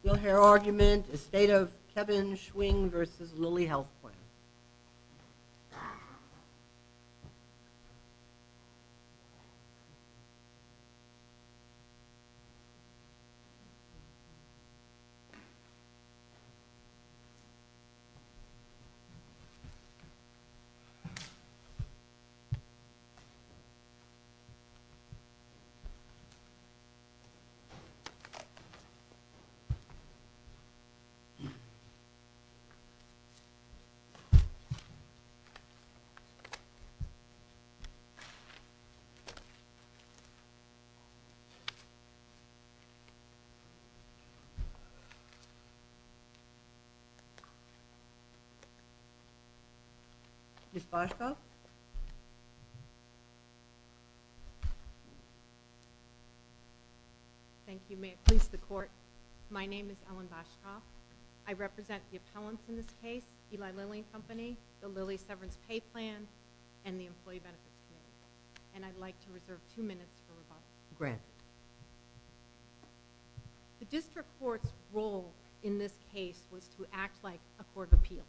Still hair argument, a state of Kevin Schwing versus Lilly Helfman. Thank you, may it please the court, my name is Ellen Boshkoff, I represent the appellants in this case, Eli Lilly and Company, the Lilly Severance Pay Plan, and the Employee Benefit Committee. And I'd like to reserve two minutes for rebuttal. Grant. The district court's role in this case was to act like a court of appeals.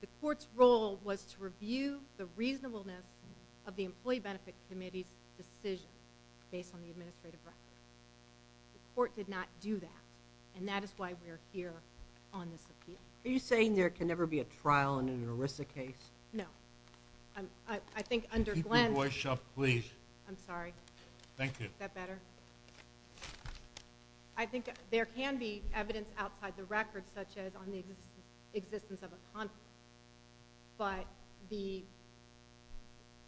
The court's role was to review the reasonableness of the Employee Benefit Committee's decision based on the administrative record. The court did not do that, and that is why we're here on this appeal. Are you saying there can never be a trial in an ERISA case? No. I think under Glenn's... Keep your voice up, please. I'm sorry. Thank you. Is that better? I think there can be evidence outside the record, such as on the existence of a conflict, but the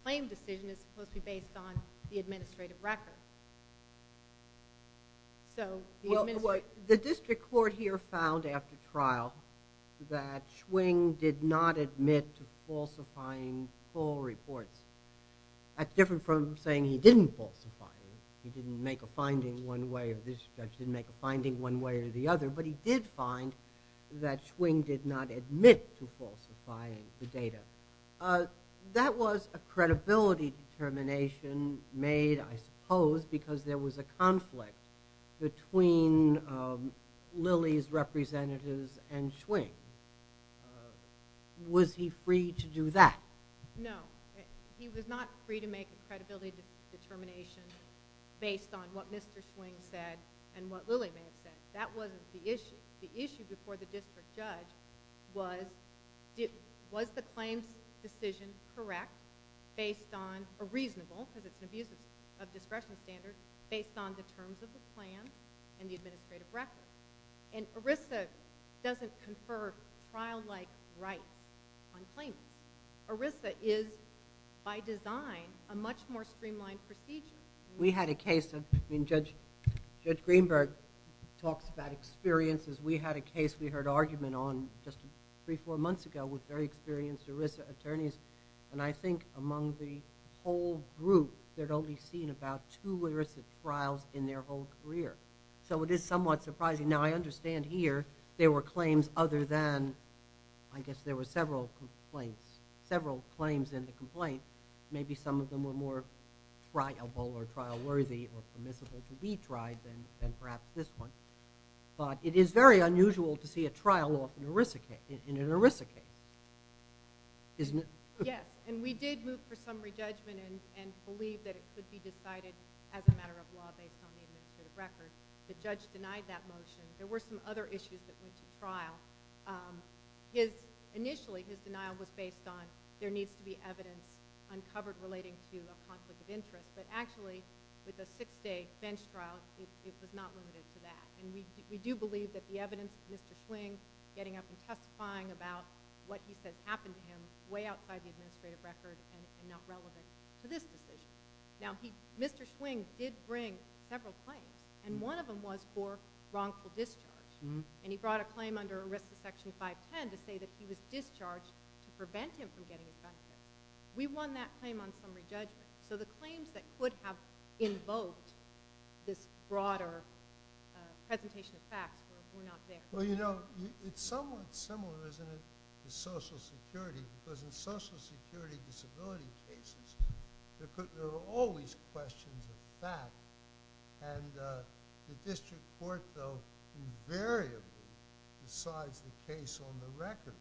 claim decision is supposed to be based on the administrative record. The district court here found after trial that Schwing did not admit to falsifying full reports. That's different from saying he didn't falsify them. He didn't make a finding one way or the other, but he did find that Schwing did not admit to falsifying the data. That was a credibility determination made, I suppose, because there was a conflict between Lilly's representatives and Schwing. Was he free to do that? No. He was not free to make a credibility determination based on what Mr. Schwing said and what Lilly may have said. That wasn't the issue. The issue before the district judge was, was the claim decision correct based on a reasonable, because it's an abuse of discretion standard, based on the terms of the plan and the administrative record. ERISA doesn't confer trial-like rights on claimants. ERISA is, by design, a much more streamlined procedure. Judge Greenberg talks about experiences. We had a case we heard argument on just three, four months ago with very experienced ERISA attorneys. I think among the whole group, they'd only seen about two ERISA trials in their whole career. It is somewhat surprising. Now, I understand here there were claims other than, I guess there were several complaints, several claims in the complaint. Maybe some of them were more triable or trial-worthy or permissible to be tried than perhaps this one. But it is very unusual to see a trial off in an ERISA case, isn't it? Yes, and we did move for summary judgment and believe that it could be decided as a matter of law based on the administrative record. The judge denied that motion. There were some other issues that went to trial. Initially, his denial was based on there needs to be evidence uncovered relating to a conflict of interest. But actually, with a six-day bench trial, it was not limited to that. And we do believe that the evidence of Mr. Schwing getting up and testifying about what he says happened to him is way outside the administrative record and not relevant to this decision. Now, Mr. Schwing did bring several claims, and one of them was for wrongful discharge. And he brought a claim under ERISA Section 510 to say that he was discharged to prevent him from getting his benefits. We won that claim on summary judgment. So the claims that could have invoked this broader presentation of facts were not there. Well, you know, it's somewhat similar, isn't it, to Social Security? Because in Social Security disability cases, there are always questions of facts. And the district court, though, invariably decides the case on the record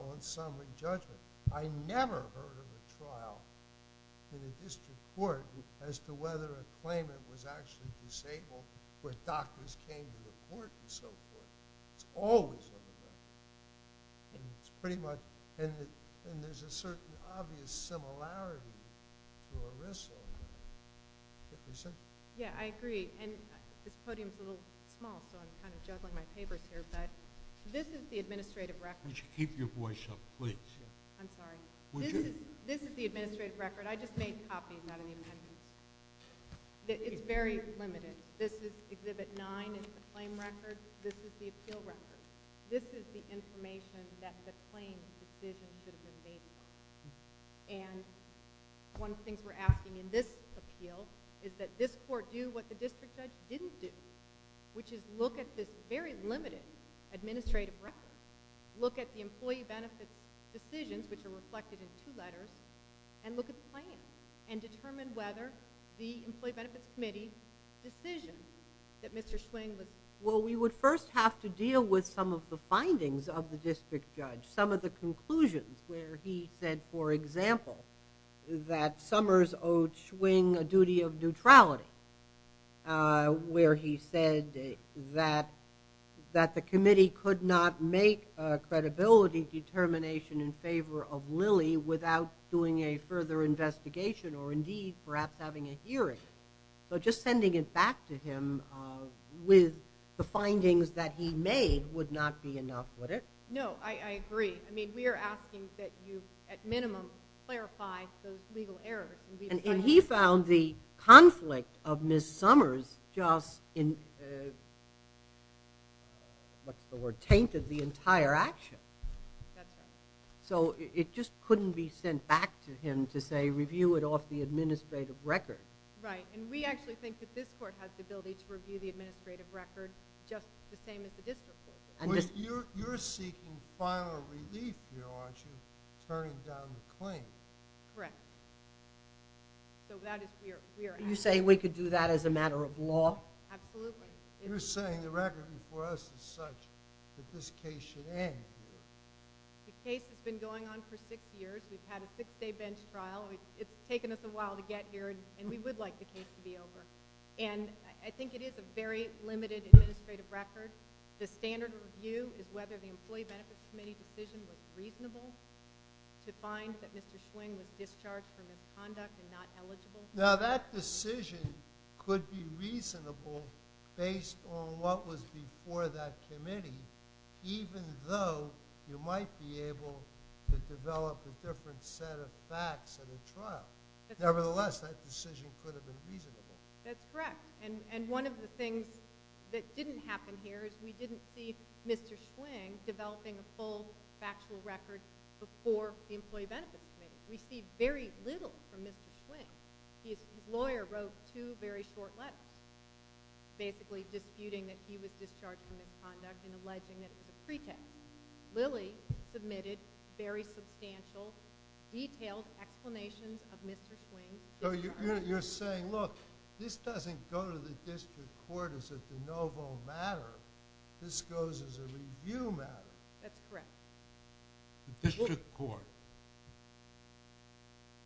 on summary judgment. I never heard of a trial in a district court as to whether a claimant was actually disabled when doctors came to the court and so forth. It's always on the record. And there's a certain obvious similarity to ERISA. Yeah, I agree. And this podium is a little small, so I'm kind of juggling my papers here. But this is the administrative record. Would you keep your voice up, please? I'm sorry. Would you? This is the administrative record. I just made copies. I don't even have to. It's very limited. This is Exhibit 9. It's the claim record. This is the appeal record. This is the information that the claimant's decision should have been based on. And one thing we're asking in this appeal is that this court do what the district judge didn't do, which is look at this very limited administrative record, look at the employee benefits decisions, which are reflected in two letters, and look at the claim and determine whether the Employee Benefits Committee's decision that Mr. Schwing was making was in line with some of the findings of the district judge, some of the conclusions, where he said, for example, that Summers owed Schwing a duty of neutrality, where he said that the committee could not make a credibility determination in favor of Lilly without doing a further investigation or, indeed, perhaps having a hearing. So just sending it back to him with the findings that he made would not be enough, would it? No, I agree. I mean, we are asking that you at minimum clarify those legal errors. And he found the conflict of Ms. Summers just, what's the word, tainted the entire action. That's right. So it just couldn't be sent back to him to say review it off the administrative record. Right. And we actually think that this court has the ability to review the administrative record just the same as the district court does. You're seeking final relief here, aren't you, turning down the claim? Correct. So that is where we are at. You're saying we could do that as a matter of law? Absolutely. You're saying the record before us is such that this case should end here. The case has been going on for six years. We've had a six-day bench trial. It's taken us a while to get here, and we would like the case to be over. And I think it is a very limited administrative record. The standard review is whether the Employee Benefits Committee decision was reasonable to find that Mr. Schwinn was discharged for misconduct and not eligible. Now, that decision could be reasonable based on what was before that committee, even though you might be able to develop a different set of facts at a trial. Nevertheless, that decision could have been reasonable. That's correct. And one of the things that didn't happen here is we didn't see Mr. Schwinn developing a full factual record before the Employee Benefits Committee. We see very little from Mr. Schwinn. His lawyer wrote two very short letters, basically disputing that he was discharged for misconduct and alleging that it was a pretext. Lilly submitted very substantial, detailed explanations of Mr. Schwinn. So you're saying, look, this doesn't go to the district court as a de novo matter. This goes as a review matter. That's correct. The district court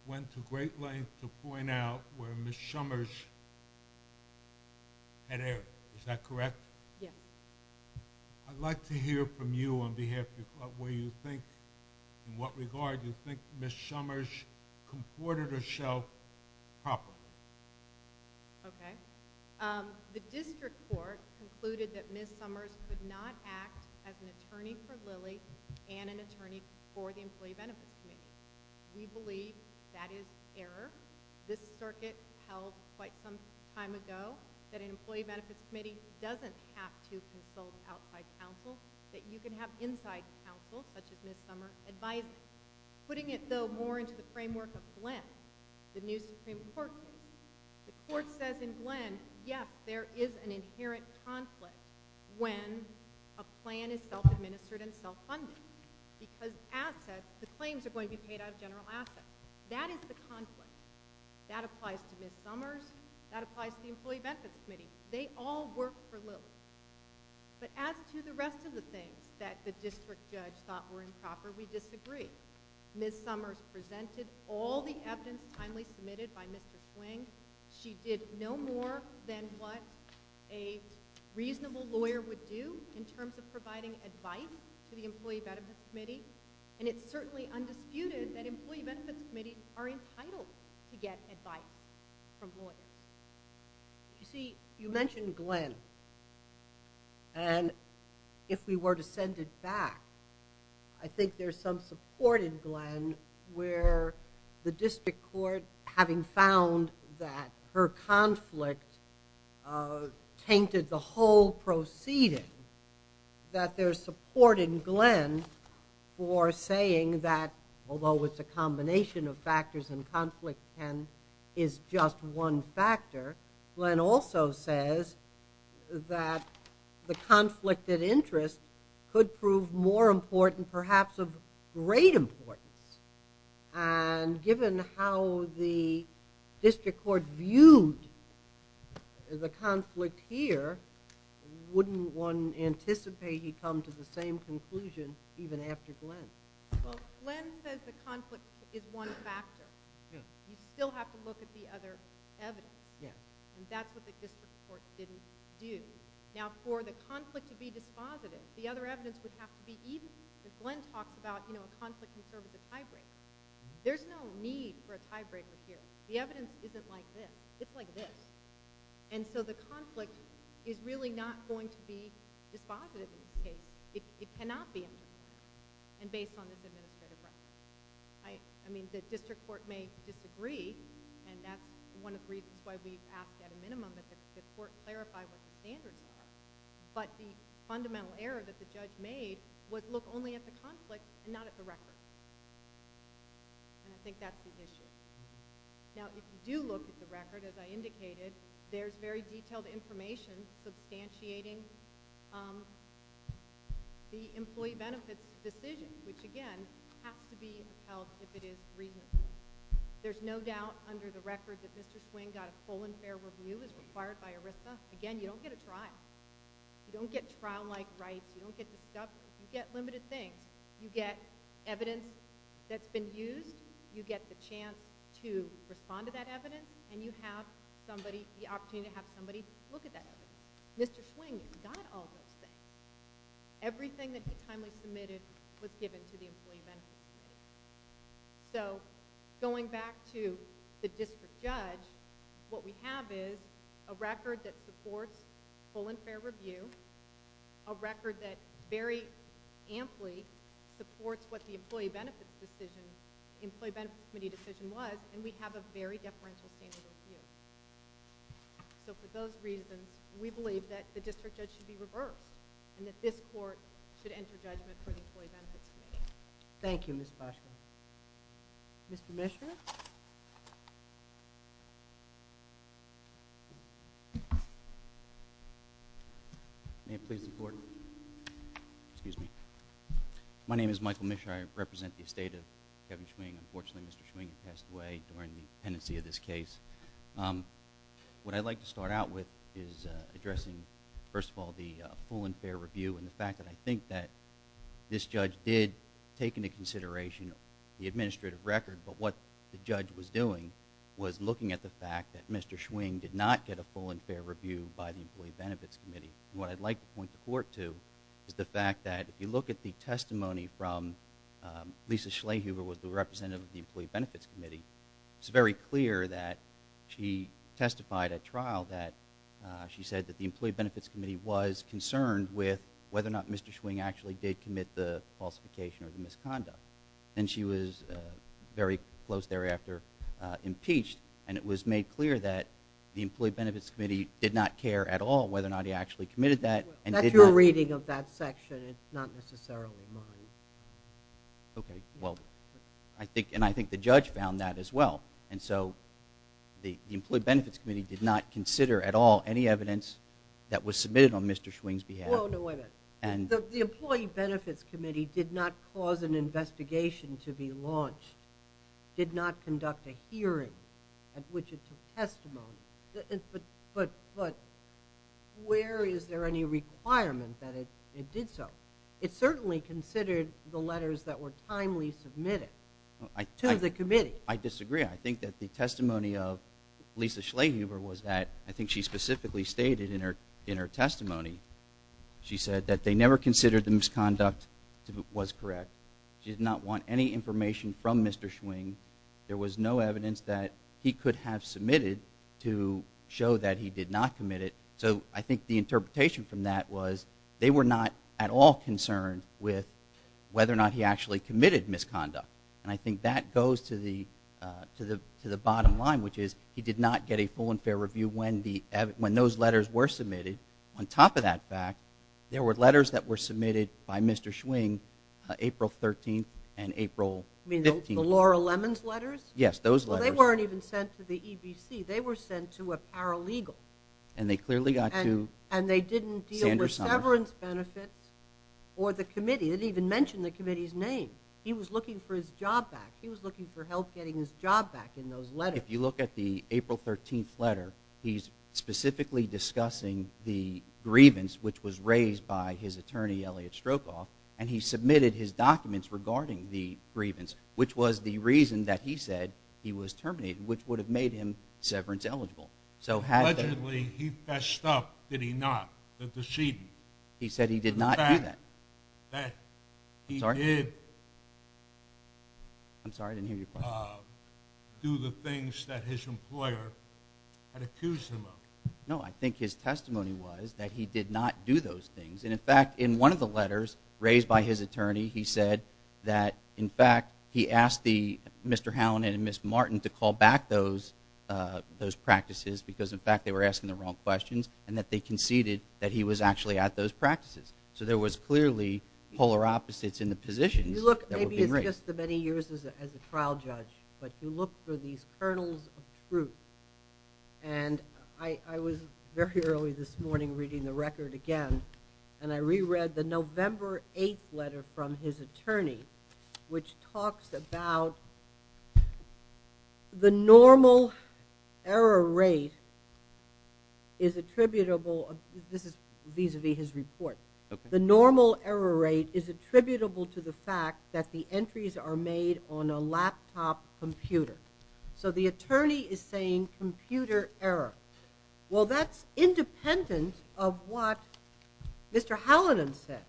went to great lengths to point out where Ms. Summers had erred. Is that correct? Yes. I'd like to hear from you on behalf of where you think, in what regard, you think Ms. Summers comported herself properly. Okay. The district court concluded that Ms. Summers could not act as an attorney for Lilly and an attorney for the Employee Benefits Committee. We believe that is error. This circuit held quite some time ago that an Employee Benefits Committee doesn't have to consult outside counsel, that you can have inside counsel, such as Ms. Summers, advise you. Putting it, though, more into the framework of Glenn, the new Supreme Court case, the court says in Glenn, yes, there is an inherent conflict when a plan is self-administered and self-funded because the claims are going to be paid out of general assets. That is the conflict. That applies to Ms. Summers. That applies to the Employee Benefits Committee. They all work for Lilly. But as to the rest of the things that the district judge thought were improper, we disagree. Ms. Summers presented all the evidence timely submitted by Mr. Swing. She did no more than what a reasonable lawyer would do in terms of providing advice to the Employee Benefits Committee, and it's certainly undisputed that Employee Benefits Committees are entitled to get advice from lawyers. You see, you mentioned Glenn, and if we were to send it back, I think there's some support in Glenn where the district court, having found that her conflict tainted the whole proceeding, that there's support in Glenn for saying that, although it's a combination of factors and conflict is just one factor, Glenn also says that the conflict of interest could prove more important, perhaps of great importance. And given how the district court viewed the conflict here, wouldn't one anticipate he'd come to the same conclusion even after Glenn? Well, Glenn says the conflict is one factor. You still have to look at the other evidence, and that's what the district court didn't do. Now, for the conflict to be dispositive, the other evidence would have to be even. As Glenn talks about, you know, a conflict can serve as a tiebreaker. There's no need for a tiebreaker here. The evidence isn't like this. It's like this. And so the conflict is really not going to be dispositive in this case. It cannot be. And based on this administrative record. I mean, the district court may disagree, and that's one of the reasons why we ask at a minimum that the court clarify what the standards are. But the fundamental error that the judge made was look only at the conflict and not at the record. And I think that's the issue. Now, if you do look at the record, as I indicated, there's very detailed information substantiating the employee benefits decision, which, again, has to be held if it is reasonable. There's no doubt under the record that Mr. Swing got a full and fair review as required by ERISA. Again, you don't get a trial. You don't get trial-like rights. You don't get the stuff. You get limited things. You get evidence that's been used. You get the chance to respond to that evidence, and you have the opportunity to have somebody look at that evidence. Mr. Swing got all this stuff. Everything that was timely submitted was given to the employee benefits committee. So going back to the district judge, what we have is a record that supports full and fair review, a record that very amply supports what the employee benefits decision, employee benefits committee decision was, and we have a very deferential standard of view. So for those reasons, we believe that the district judge should be reversed and that this court should enter judgment for the employee benefits committee. Thank you, Ms. Fosker. Mr. Mishra? May it please the Court? Excuse me. My name is Michael Mishra. I represent the estate of Kevin Swing. Unfortunately, Mr. Swing passed away during the pendency of this case. What I'd like to start out with is addressing, first of all, the full and fair review and the fact that I think that this judge did take into consideration the administrative record, but what the judge was doing was looking at the fact that Mr. Swing did not get a full and fair review by the employee benefits committee. What I'd like to point the Court to is the fact that if you look at the testimony from Lisa Schleyhuber, who was the representative of the employee benefits committee, it's very clear that she testified at trial that she said that the employee benefits committee was concerned with whether or not Mr. Swing actually did commit the falsification or the misconduct, and she was very close thereafter impeached, and it was made clear that the employee benefits committee did not care at all whether or not he actually committed that. That's your reading of that section. It's not necessarily mine. Okay, well, and I think the judge found that as well, and so the employee benefits committee did not consider at all any evidence that was submitted on Mr. Swing's behalf. Oh, no, wait a minute. The employee benefits committee did not cause an investigation to be launched, did not conduct a hearing at which it took testimony, but where is there any requirement that it did so? It certainly considered the letters that were timely submitted to the committee. I disagree. I think that the testimony of Lisa Schleyhuber was that, I think she specifically stated in her testimony, she said that they never considered the misconduct was correct. She did not want any information from Mr. Swing. There was no evidence that he could have submitted to show that he did not commit it, so I think the interpretation from that was they were not at all concerned with whether or not he actually committed misconduct, and I think that goes to the bottom line, which is he did not get a full and fair review. When those letters were submitted, on top of that fact, there were letters that were submitted by Mr. Swing April 13th and April 15th. You mean the Laura Lemons letters? Yes, those letters. Well, they weren't even sent to the EBC. They were sent to a paralegal. And they clearly got to Sandra Summers. And they didn't deal with severance benefits or the committee. They didn't even mention the committee's name. He was looking for his job back. He was looking for help getting his job back in those letters. If you look at the April 13th letter, he's specifically discussing the grievance, which was raised by his attorney, Elliot Strokoff, and he submitted his documents regarding the grievance, which was the reason that he said he was terminated, which would have made him severance eligible. Allegedly, he fessed up, did he not, the decedent. He said he did not do that. In fact, that he did do the things that his employer had accused him of. No, I think his testimony was that he did not do those things. And, in fact, in one of the letters raised by his attorney, he said that, in fact, he asked Mr. Howland and Ms. Martin to call back those practices because, in fact, they were asking the wrong questions and that they conceded that he was actually at those practices. So there was clearly polar opposites in the positions that were being raised. Maybe it's just the many years as a trial judge, but you look for these kernels of truth. And I was very early this morning reading the record again, and I reread the November 8th letter from his attorney, which talks about the normal error rate is attributable. This is vis-a-vis his report. The normal error rate is attributable to the fact that the entries are made on a laptop computer. So the attorney is saying computer error. Well, that's independent of what Mr. Howland said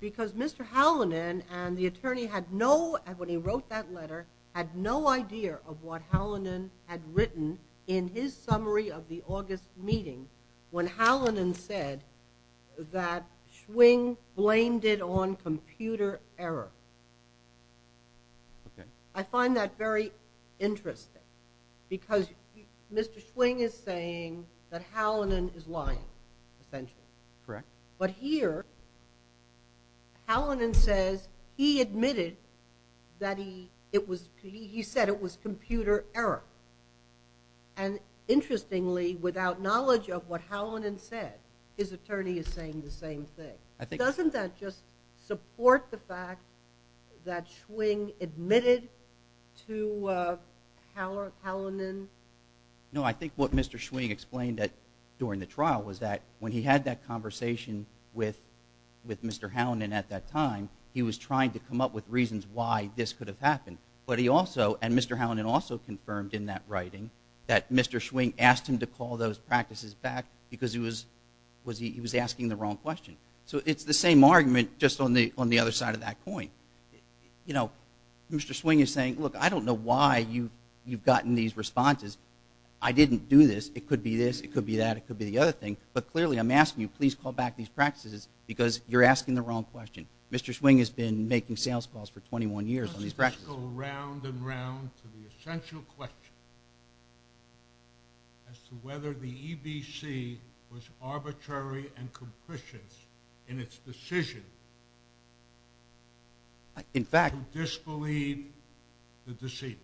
because Mr. Howland and the attorney, when he wrote that letter, had no idea of what Howland had written in his summary of the August meeting when Howland said that Schwing blamed it on computer error. I find that very interesting because Mr. Schwing is saying that Howland is lying, essentially. Correct. But here Howland says he admitted that he said it was computer error. And interestingly, without knowledge of what Howland had said, his attorney is saying the same thing. Doesn't that just support the fact that Schwing admitted to Howland? No, I think what Mr. Schwing explained during the trial was that when he had that conversation with Mr. Howland at that time, he was trying to come up with reasons why this could have happened. But he also, and Mr. Howland also confirmed in that writing, that Mr. Schwing asked him to call those practices back because he was asking the wrong question. So it's the same argument, just on the other side of that coin. Mr. Schwing is saying, look, I don't know why you've gotten these responses. I didn't do this. It could be this, it could be that, it could be the other thing. But clearly I'm asking you, please call back these practices because you're asking the wrong question. Mr. Schwing has been making sales calls for 21 years on these practices. Let's just go round and round to the essential question as to whether the EBC was arbitrary and capricious in its decision to disbelieve the deceiver.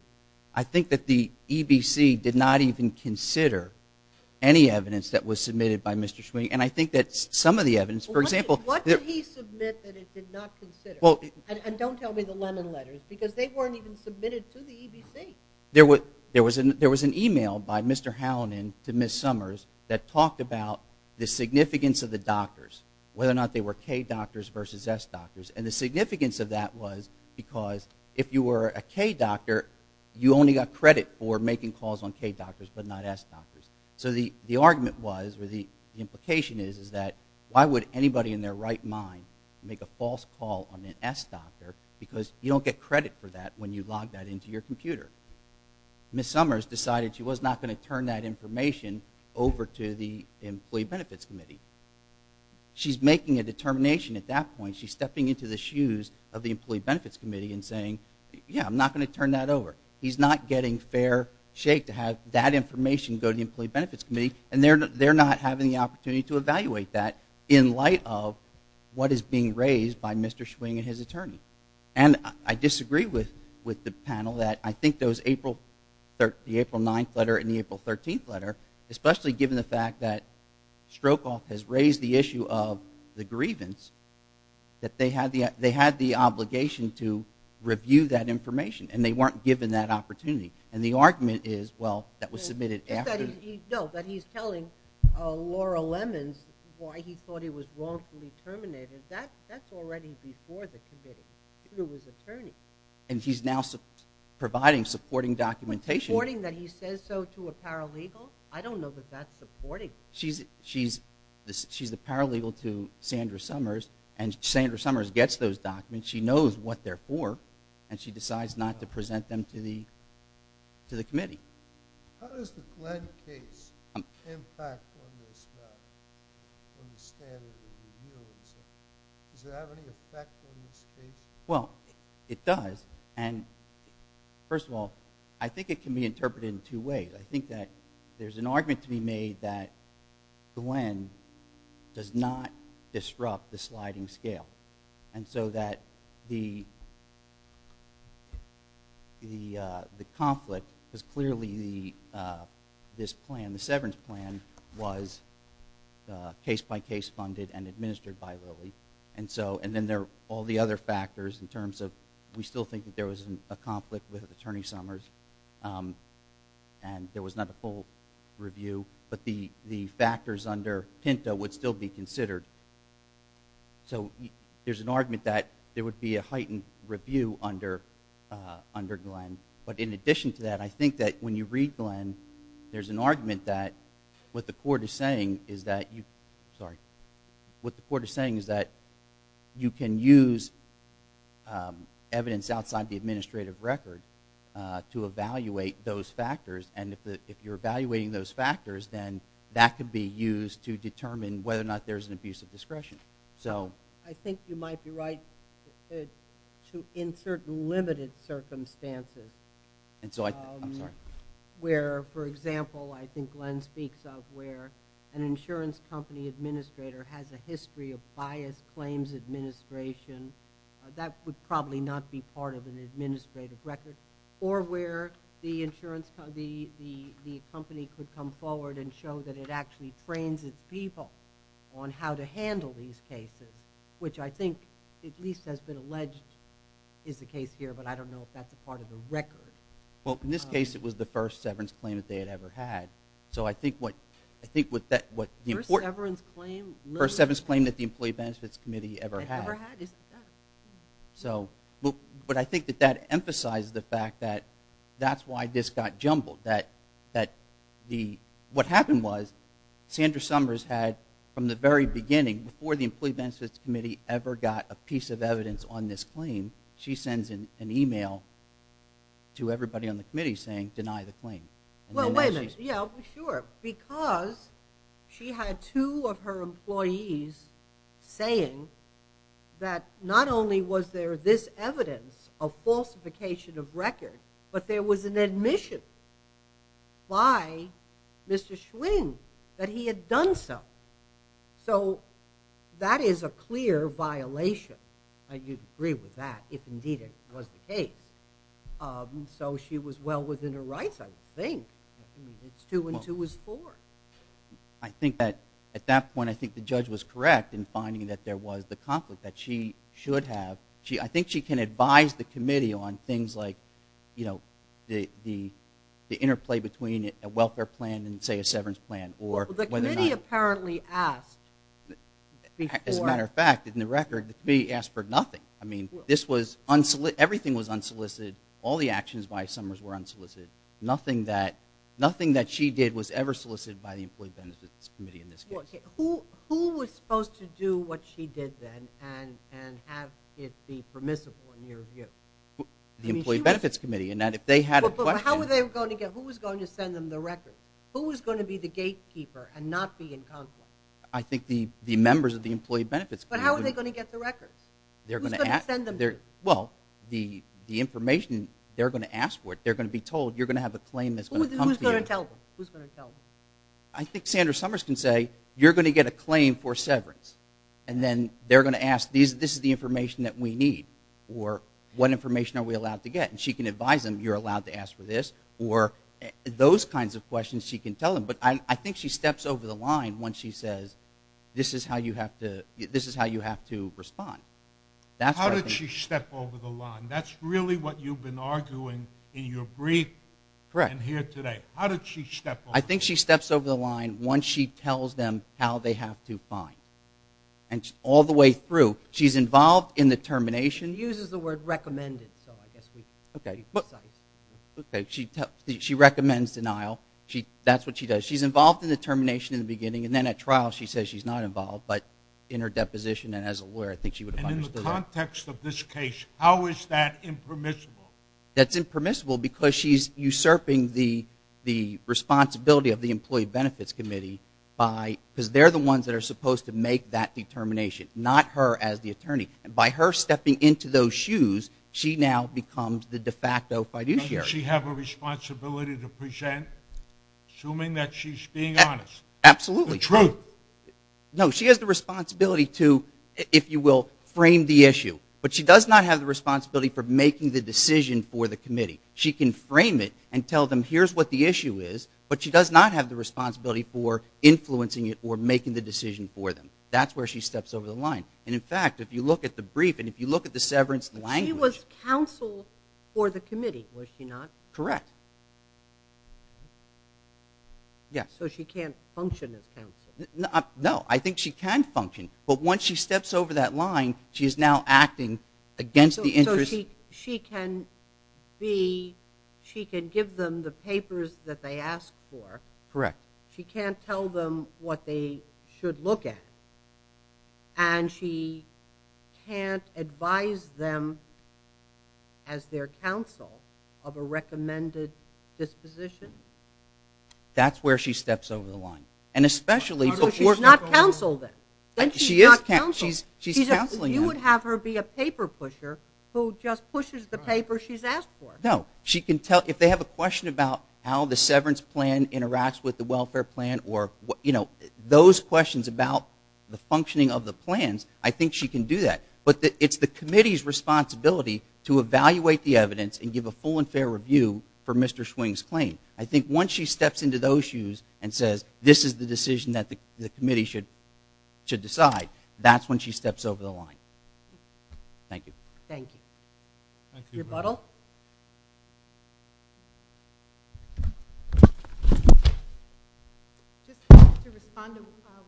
I think that the EBC did not even consider any evidence that was submitted by Mr. Schwing. And I think that some of the evidence, for example... What did he submit that it did not consider? And don't tell me the lemon letters because they weren't even submitted to the EBC. There was an email by Mr. Howland to Ms. Summers that talked about the significance of the doctors, whether or not they were K doctors versus S doctors. And the significance of that was because if you were a K doctor, you only got credit for making calls on K doctors but not S doctors. So the argument was, or the implication is, is that why would anybody in their right mind make a false call on an S doctor because you don't get credit for that when you log that into your computer. Ms. Summers decided she was not going to turn that information over to the employee benefits committee. She's making a determination at that point. She's stepping into the shoes of the employee benefits committee and saying, yeah, I'm not going to turn that over. He's not getting fair shake to have that information go to the employee benefits committee, and they're not having the opportunity to evaluate that in light of what is being raised by Mr. Schwing and his attorney. And I disagree with the panel that I think those April 9th letter and the April 13th letter, especially given the fact that Strokoff has raised the issue of the grievance, that they had the obligation to review that information and they weren't given that opportunity. And the argument is, well, that was submitted after. No, but he's telling Laura Lemons why he thought he was wrongfully terminated. That's already before the committee, through his attorney. And he's now providing supporting documentation. Supporting that he says so to a paralegal? I don't know that that's supporting. She's a paralegal to Sandra Summers, and Sandra Summers gets those documents. She knows what they're for, and she decides not to present them to the committee. How does the Glenn case impact on this matter, on the standard of review and such? Does it have any effect on the state? Well, it does. And, first of all, I think it can be interpreted in two ways. I think that there's an argument to be made that Glenn does not disrupt the sliding scale. And so that the conflict is clearly this plan, the severance plan, was case-by-case funded and administered by Lilly. And then there are all the other factors in terms of we still think that there was a conflict with Attorney Summers. And there was not a full review. But the factors under Pinto would still be considered. So there's an argument that there would be a heightened review under Glenn. But in addition to that, I think that when you read Glenn, there's an argument that what the court is saying is that you— I'm sorry. What the court is saying is that you can use evidence outside the administrative record to evaluate those factors. And if you're evaluating those factors, then that could be used to determine whether or not there's an abuse of discretion. I think you might be right to insert limited circumstances where, for example, I think Glenn speaks of where an insurance company administrator has a history of biased claims administration. That would probably not be part of an administrative record. Or where the insurance company could come forward and show that it actually trains its people on how to handle these cases, which I think at least has been alleged is the case here, but I don't know if that's a part of the record. Well, in this case, it was the first severance claim that they had ever had. So I think what— First severance claim? First severance claim that the Employee Benefits Committee ever had. Ever had? But I think that that emphasizes the fact that that's why this got jumbled. What happened was Sandra Summers had, from the very beginning, before the Employee Benefits Committee ever got a piece of evidence on this claim, she sends an email to everybody on the committee saying, deny the claim. Well, wait a minute. Yeah, sure. Because she had two of her employees saying that not only was there this evidence of falsification of record, but there was an admission by Mr. Schwing that he had done so. So that is a clear violation. I agree with that, if indeed it was the case. So she was well within her rights, I think. Two and two is four. I think that at that point, I think the judge was correct in finding that there was the conflict that she should have. I think she can advise the committee on things like, you know, the interplay between a welfare plan and, say, a severance plan or whether or not— Well, the committee apparently asked— As a matter of fact, in the record, the committee asked for nothing. I mean, this was—everything was unsolicited. All the actions by Summers were unsolicited. Nothing that she did was ever solicited by the Employee Benefits Committee in this case. Who was supposed to do what she did then and have it be permissible, in your view? The Employee Benefits Committee, and that if they had a question— But how were they going to get—who was going to send them the record? Who was going to be the gatekeeper and not be in conflict? I think the members of the Employee Benefits Committee— But how were they going to get the record? Who was going to send them— Well, the information they're going to ask for, they're going to be told, you're going to have a claim that's going to come to you. Who's going to tell them? I think Sandra Summers can say, you're going to get a claim for severance, and then they're going to ask, this is the information that we need, or what information are we allowed to get? And she can advise them, you're allowed to ask for this, or those kinds of questions she can tell them. But I think she steps over the line once she says, this is how you have to respond. How did she step over the line? That's really what you've been arguing in your brief and here today. Correct. How did she step over the line? I think she steps over the line once she tells them how they have to find. And all the way through, she's involved in the termination, uses the word recommended, Okay, she recommends denial. That's what she does. She's involved in the termination in the beginning, and then at trial she says she's not involved. But in her deposition and as a lawyer, I think she would have understood that. And in the context of this case, how is that impermissible? That's impermissible because she's usurping the responsibility of the Employee Benefits Committee because they're the ones that are supposed to make that determination, not her as the attorney. And by her stepping into those shoes, she now becomes the de facto fiduciary. Doesn't she have a responsibility to present, assuming that she's being honest? Absolutely. The truth. No, she has the responsibility to, if you will, frame the issue. But she does not have the responsibility for making the decision for the committee. She can frame it and tell them here's what the issue is, but she does not have the responsibility for influencing it or making the decision for them. That's where she steps over the line. And, in fact, if you look at the brief and if you look at the severance language. She was counsel for the committee, was she not? Correct. So she can't function as counsel? No, I think she can function. But once she steps over that line, she is now acting against the interest. So she can give them the papers that they asked for. Correct. She can't tell them what they should look at. And she can't advise them as their counsel of a recommended disposition? That's where she steps over the line. So she's not counsel then? She is counsel. She's counseling them. You would have her be a paper pusher who just pushes the paper she's asked for. No. If they have a question about how the severance plan interacts with the welfare plan or those questions about the functioning of the plans, I think she can do that. But it's the committee's responsibility to evaluate the evidence and give a full and fair review for Mr. Swing's claim. I think once she steps into those shoes and says this is the decision that the committee should decide, that's when she steps over the line. Thank you. Thank you. Rebuttal? Just to respond to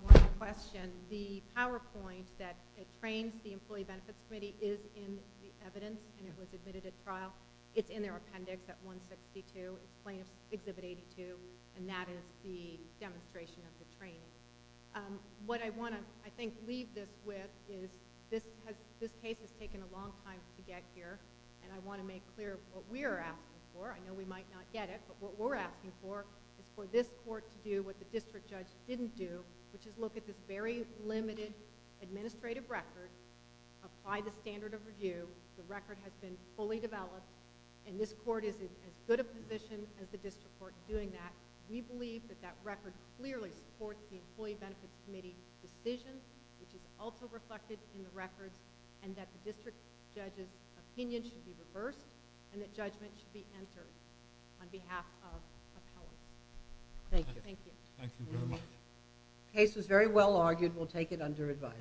one question, the PowerPoint that trains the Employee Benefits Committee is in the evidence and it was admitted at trial. It's in their appendix at 162. It's Exhibit 82, and that is the demonstration of the training. What I want to, I think, leave this with is this case has taken a long time to get here, and I want to make clear what we are asking for. I know we might not get it, but what we're asking for is for this court to do what the district judge didn't do, which is look at this very limited administrative record, apply the standard of review. The record has been fully developed, and this court is as good a position as the district court in doing that. We believe that that record clearly supports the Employee Benefits Committee's decision, which is also reflected in the record, and that the district judge's opinion should be reversed and that judgment should be entered on behalf of the public. Thank you. Thank you. Thank you very much. The case was very well argued. We'll take it under advice.